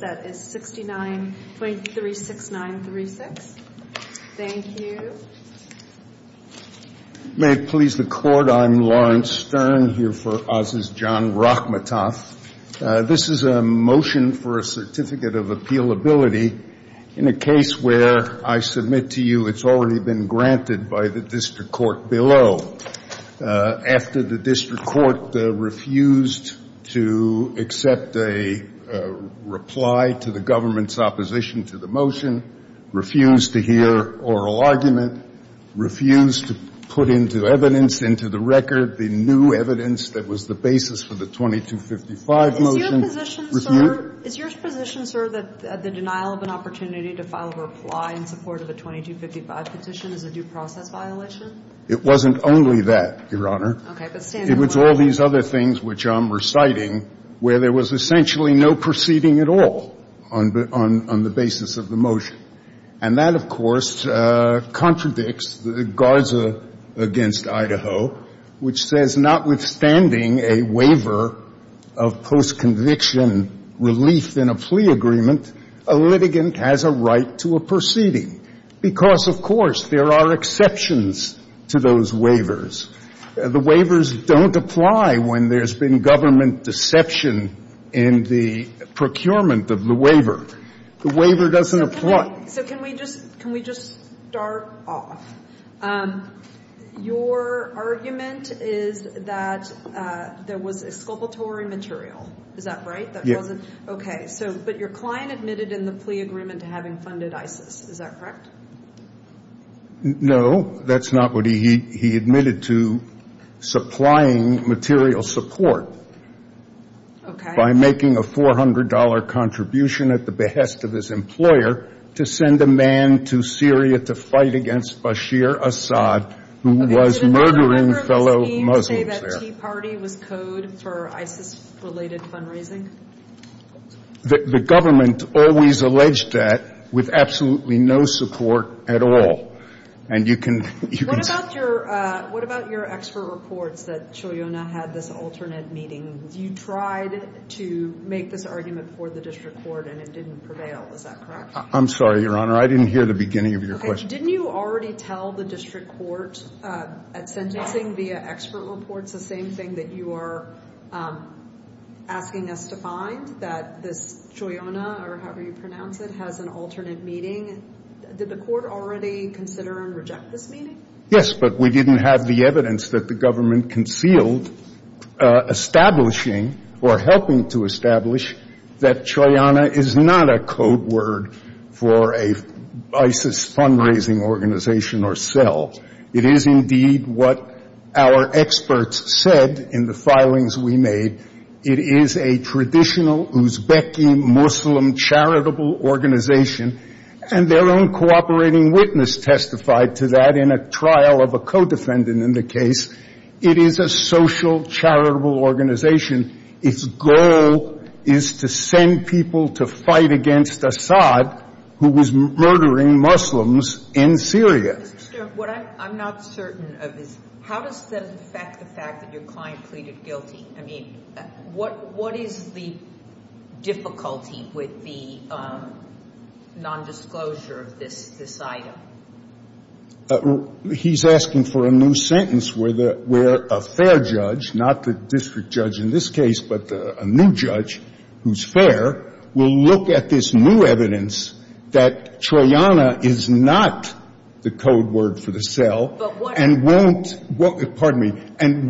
that is 69.36936. Thank you. May it please the Court, I'm Lawrence Stern here for Oz's John Rakhmatov. This is a motion for a certificate of appealability in a case where I submit to you it's already been granted by the district court below. After the district court refused to accept a reply to the government's opposition to the motion, refused to hear oral argument, refused to put into evidence, into the record the new evidence that was the basis for the 2255 motion. Is your position, sir, that the denial of an opportunity to file a reply in support of a 2255 petition is a due process violation? It wasn't only that, Your Honor. Okay. But stand in line. It was all these other things which I'm reciting where there was essentially no proceeding at all on the basis of the motion. And that, of course, contradicts the Garza against Idaho, which says notwithstanding a waiver of post-conviction relief in a plea agreement, a litigant has a right to a proceeding. Because, of course, there are exceptions to those waivers. The waivers don't apply when there's been government deception in the procurement of the waiver. The waiver doesn't apply. So can we just start off? Your argument is that there was exculpatory material. Is that right? Yes. Okay. But your client admitted in the plea agreement to having funded ISIS. Is that correct? No. That's not what he admitted to supplying material support by making a $400 contribution at the behest of his employer to send a man to Syria to fight against Bashir Assad, who was murdering fellow Muslims there. So the IT party was code for ISIS-related fundraising? The government always alleged that with absolutely no support at all. And you can – What about your expert reports that Choyona had this alternate meeting? You tried to make this argument for the district court, and it didn't prevail. Is that correct? I'm sorry, Your Honor. I didn't hear the beginning of your question. Didn't you already tell the district court at sentencing via expert reports the same thing that you are asking us to find, that this Choyona, or however you pronounce it, has an alternate meeting? Did the court already consider and reject this meeting? Yes, but we didn't have the evidence that the government concealed establishing or helping to establish that Choyona is not a code word for an ISIS fundraising organization or cell. It is indeed what our experts said in the filings we made. It is a traditional Uzbeki Muslim charitable organization, and their own cooperating witness testified to that in a trial of a co-defendant in the case. It is a social charitable organization. Its goal is to send people to fight against Assad, who was murdering Muslims in Syria. Mr. Stern, what I'm not certain of is how does that affect the fact that your client pleaded guilty? I mean, what is the difficulty with the nondisclosure of this item? He's asking for a new sentence where a fair judge, not the district judge in this case, but a new judge who's fair will look at this new evidence that Choyona is not the code word for the cell. But what? And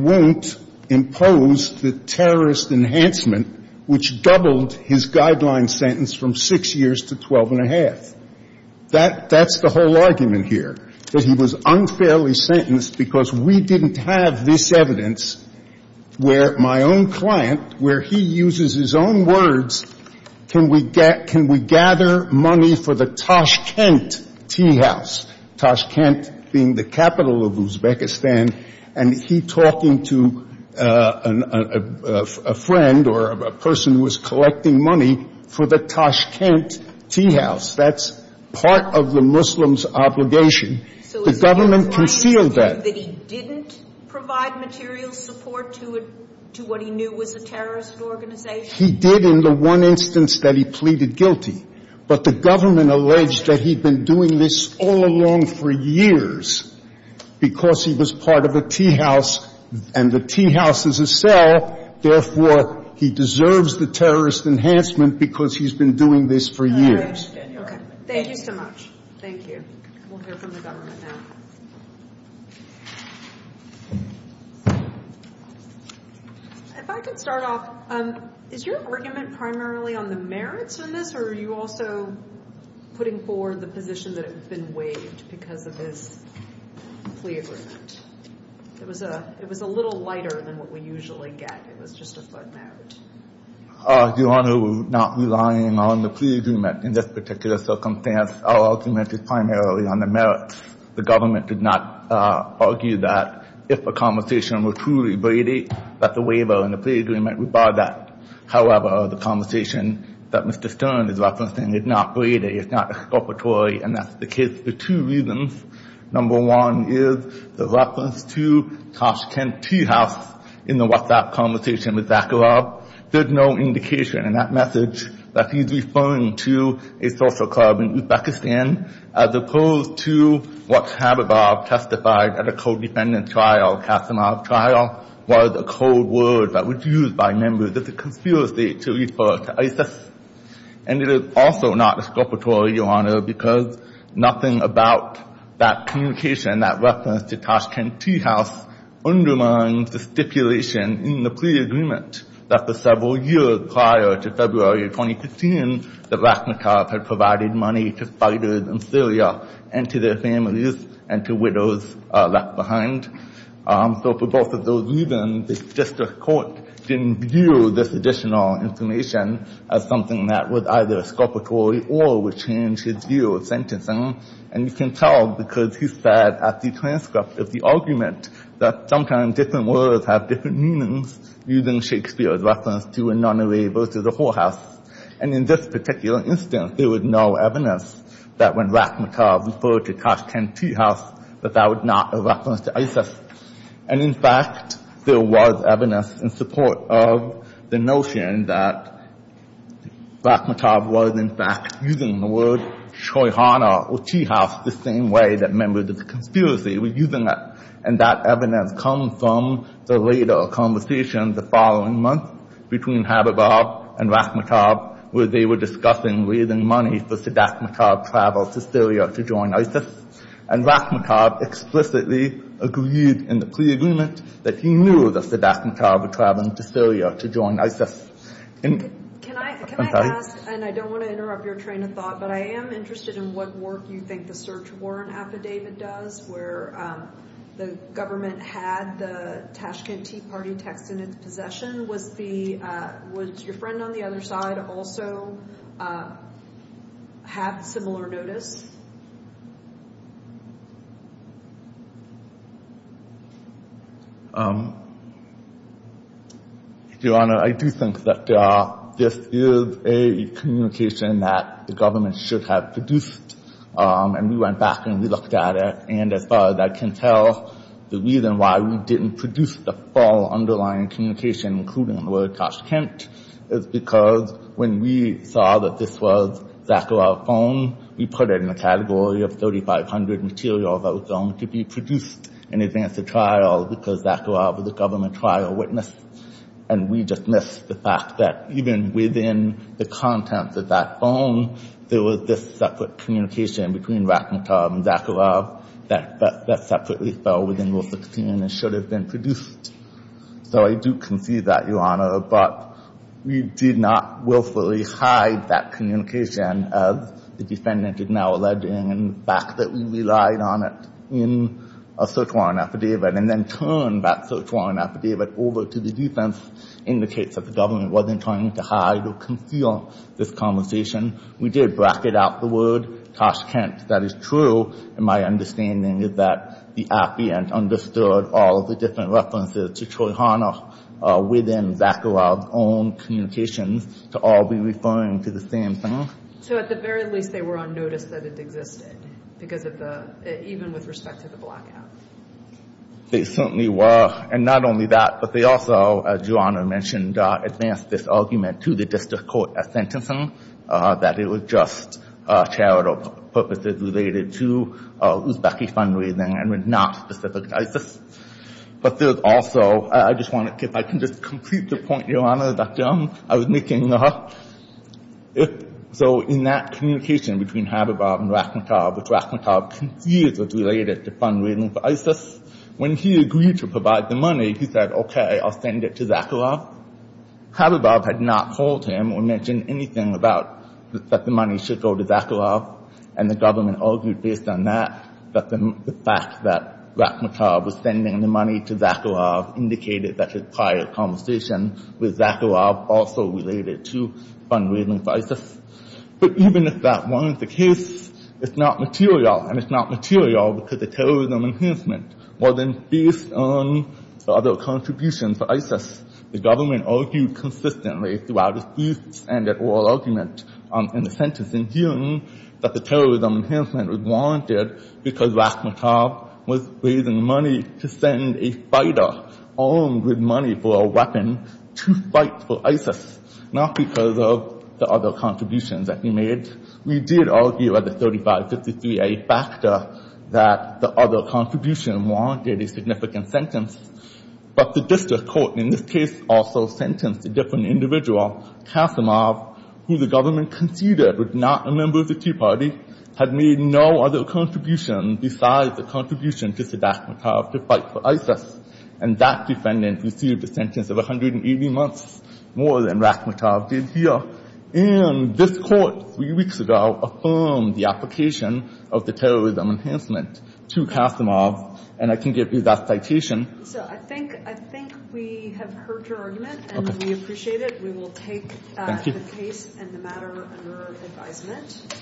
won't impose the terrorist enhancement, which doubled his guideline sentence from 6 years to 12 1⁄2. That's the whole argument here, that he was unfairly sentenced because we didn't have this evidence where my own client, where he uses his own words, can we gather money for the Tashkent Tea House, Tashkent being the capital of Uzbekistan, and he talking to a friend or a person who was collecting money for the Tashkent Tea House. That's part of the Muslim's obligation. The government concealed that. So is he arguing that he didn't provide material support to what he knew was a terrorist organization? He did in the one instance that he pleaded guilty. But the government alleged that he'd been doing this all along for years because he was part of a tea house, and the tea house is a cell, therefore, he deserves the terrorist enhancement because he's been doing this for years. Thank you so much. Thank you. We'll hear from the government now. If I could start off, is your argument primarily on the merits in this, or are you also putting forward the position that it's been waived because of his plea agreement? It was a little lighter than what we usually get. It was just a footnote. Your Honor, we're not relying on the plea agreement in this particular circumstance. Our argument is primarily on the merits. The government did not argue that if a conversation were truly braided, that the waiver and the plea agreement would bar that. However, the conversation that Mr. Stern is referencing is not braided. It's not exculpatory, and that's the case for two reasons. Number one is the reference to Tashkent Tea House in the WhatsApp conversation with Zakharov. There's no indication in that message that he's referring to a social club in Uzbekistan as opposed to what Khabibov testified at a co-defendant trial, Kasimov trial, was a code word that was used by members of the conspiracy to refer to ISIS. And it is also not exculpatory, Your Honor, because nothing about that communication, that reference to Tashkent Tea House, undermines the stipulation in the plea agreement that for several years prior to February of 2015, the Rakhinev had provided money to fighters in Syria and to their families and to widows left behind. So for both of those reasons, the district court didn't view this additional information as something that was either exculpatory or would change his view of sentencing. And you can tell because he said at the transcript of the argument that sometimes different words have different meanings using Shakespeare's reference to a nunnery versus a whorehouse. And in this particular instance, there was no evidence that when Rakhinev referred to Tashkent Tea House that that was not a reference to ISIS. And, in fact, there was evidence in support of the notion that Rakhinev was, in fact, using the word shoyhana or tea house the same way that members of the conspiracy were using it. And that evidence comes from the later conversation the following month between Habibov and Rakhinev where they were discussing raising money for Sadat Rakhinev's travel to Syria to join ISIS. And Rakhinev explicitly agreed in the pre-agreement that he knew that Sadat Rakhinev would travel to Syria to join ISIS. Can I ask, and I don't want to interrupt your train of thought, but I am interested in what work you think the search warrant affidavit does where the government had the Tashkent Tea Party text in its possession. Was your friend on the other side also have similar notice? Your Honor, I do think that this is a communication that the government should have produced. And we went back and we looked at it. And as far as I can tell, the reason why we didn't produce the full underlying communication, including the word Tashkent, is because when we saw that this was Zakharov's phone, we put it in the category of 3,500 materials that were going to be produced in advance of trial because Zakharov was a government trial witness. And we dismissed the fact that even within the contents of that phone, there was this separate communication between Rakhinev and Zakharov that separately fell within Rule 16 and should have been produced. So I do concede that, Your Honor. But we did not willfully hide that communication as the defendant is now alleging and the fact that we relied on it in a search warrant affidavit and then turned that search warrant affidavit over to the defense indicates that the government wasn't trying to hide or conceal this conversation. We did bracket out the word Tashkent. That is true. And my understanding is that the appeant understood all of the different references to Troihanov within Zakharov's own communications to all be referring to the same thing. So at the very least, they were on notice that it existed because of the – even with respect to the blackout. They certainly were. And not only that, but they also, as Your Honor mentioned, advanced this argument to the district court as sentencing, that it was just charitable purposes related to Uzbeki fundraising and was not specific to ISIS. But there's also – I just want to – if I can just complete the point, Your Honor, that I was making. So in that communication between Habibov and Rakhinev, which Rakhinev concedes was related to fundraising for ISIS, when he agreed to provide the money, he said, okay, I'll send it to Zakharov. Habibov had not told him or mentioned anything about that the money should go to Zakharov. And the government argued based on that that the fact that Rakhinev was sending the money to Zakharov indicated that his prior conversation with Zakharov also related to fundraising for ISIS. But even if that weren't the case, it's not material, and it's not material because the terrorism enhancement wasn't based on the other contributions for ISIS. The government argued consistently throughout its briefs and its oral argument in the sentencing hearing that the terrorism enhancement was warranted because Rakhinev was raising money to send a fighter armed with money for a weapon to fight for ISIS, not because of the other contributions that he made. We did argue at the 3553A factor that the other contribution warranted a significant sentence. But the district court in this case also sentenced a different individual, Kasimov, who the government conceded was not a member of the Tea Party, had made no other contribution besides the contribution to Sadat Makharov to fight for ISIS. And that defendant received a sentence of 180 months, more than Rakhinev did here. And this court three weeks ago affirmed the application of the terrorism enhancement to Kasimov. And I can give you that citation. So I think we have heard your argument, and we appreciate it. We will take the case and the matter under advisement.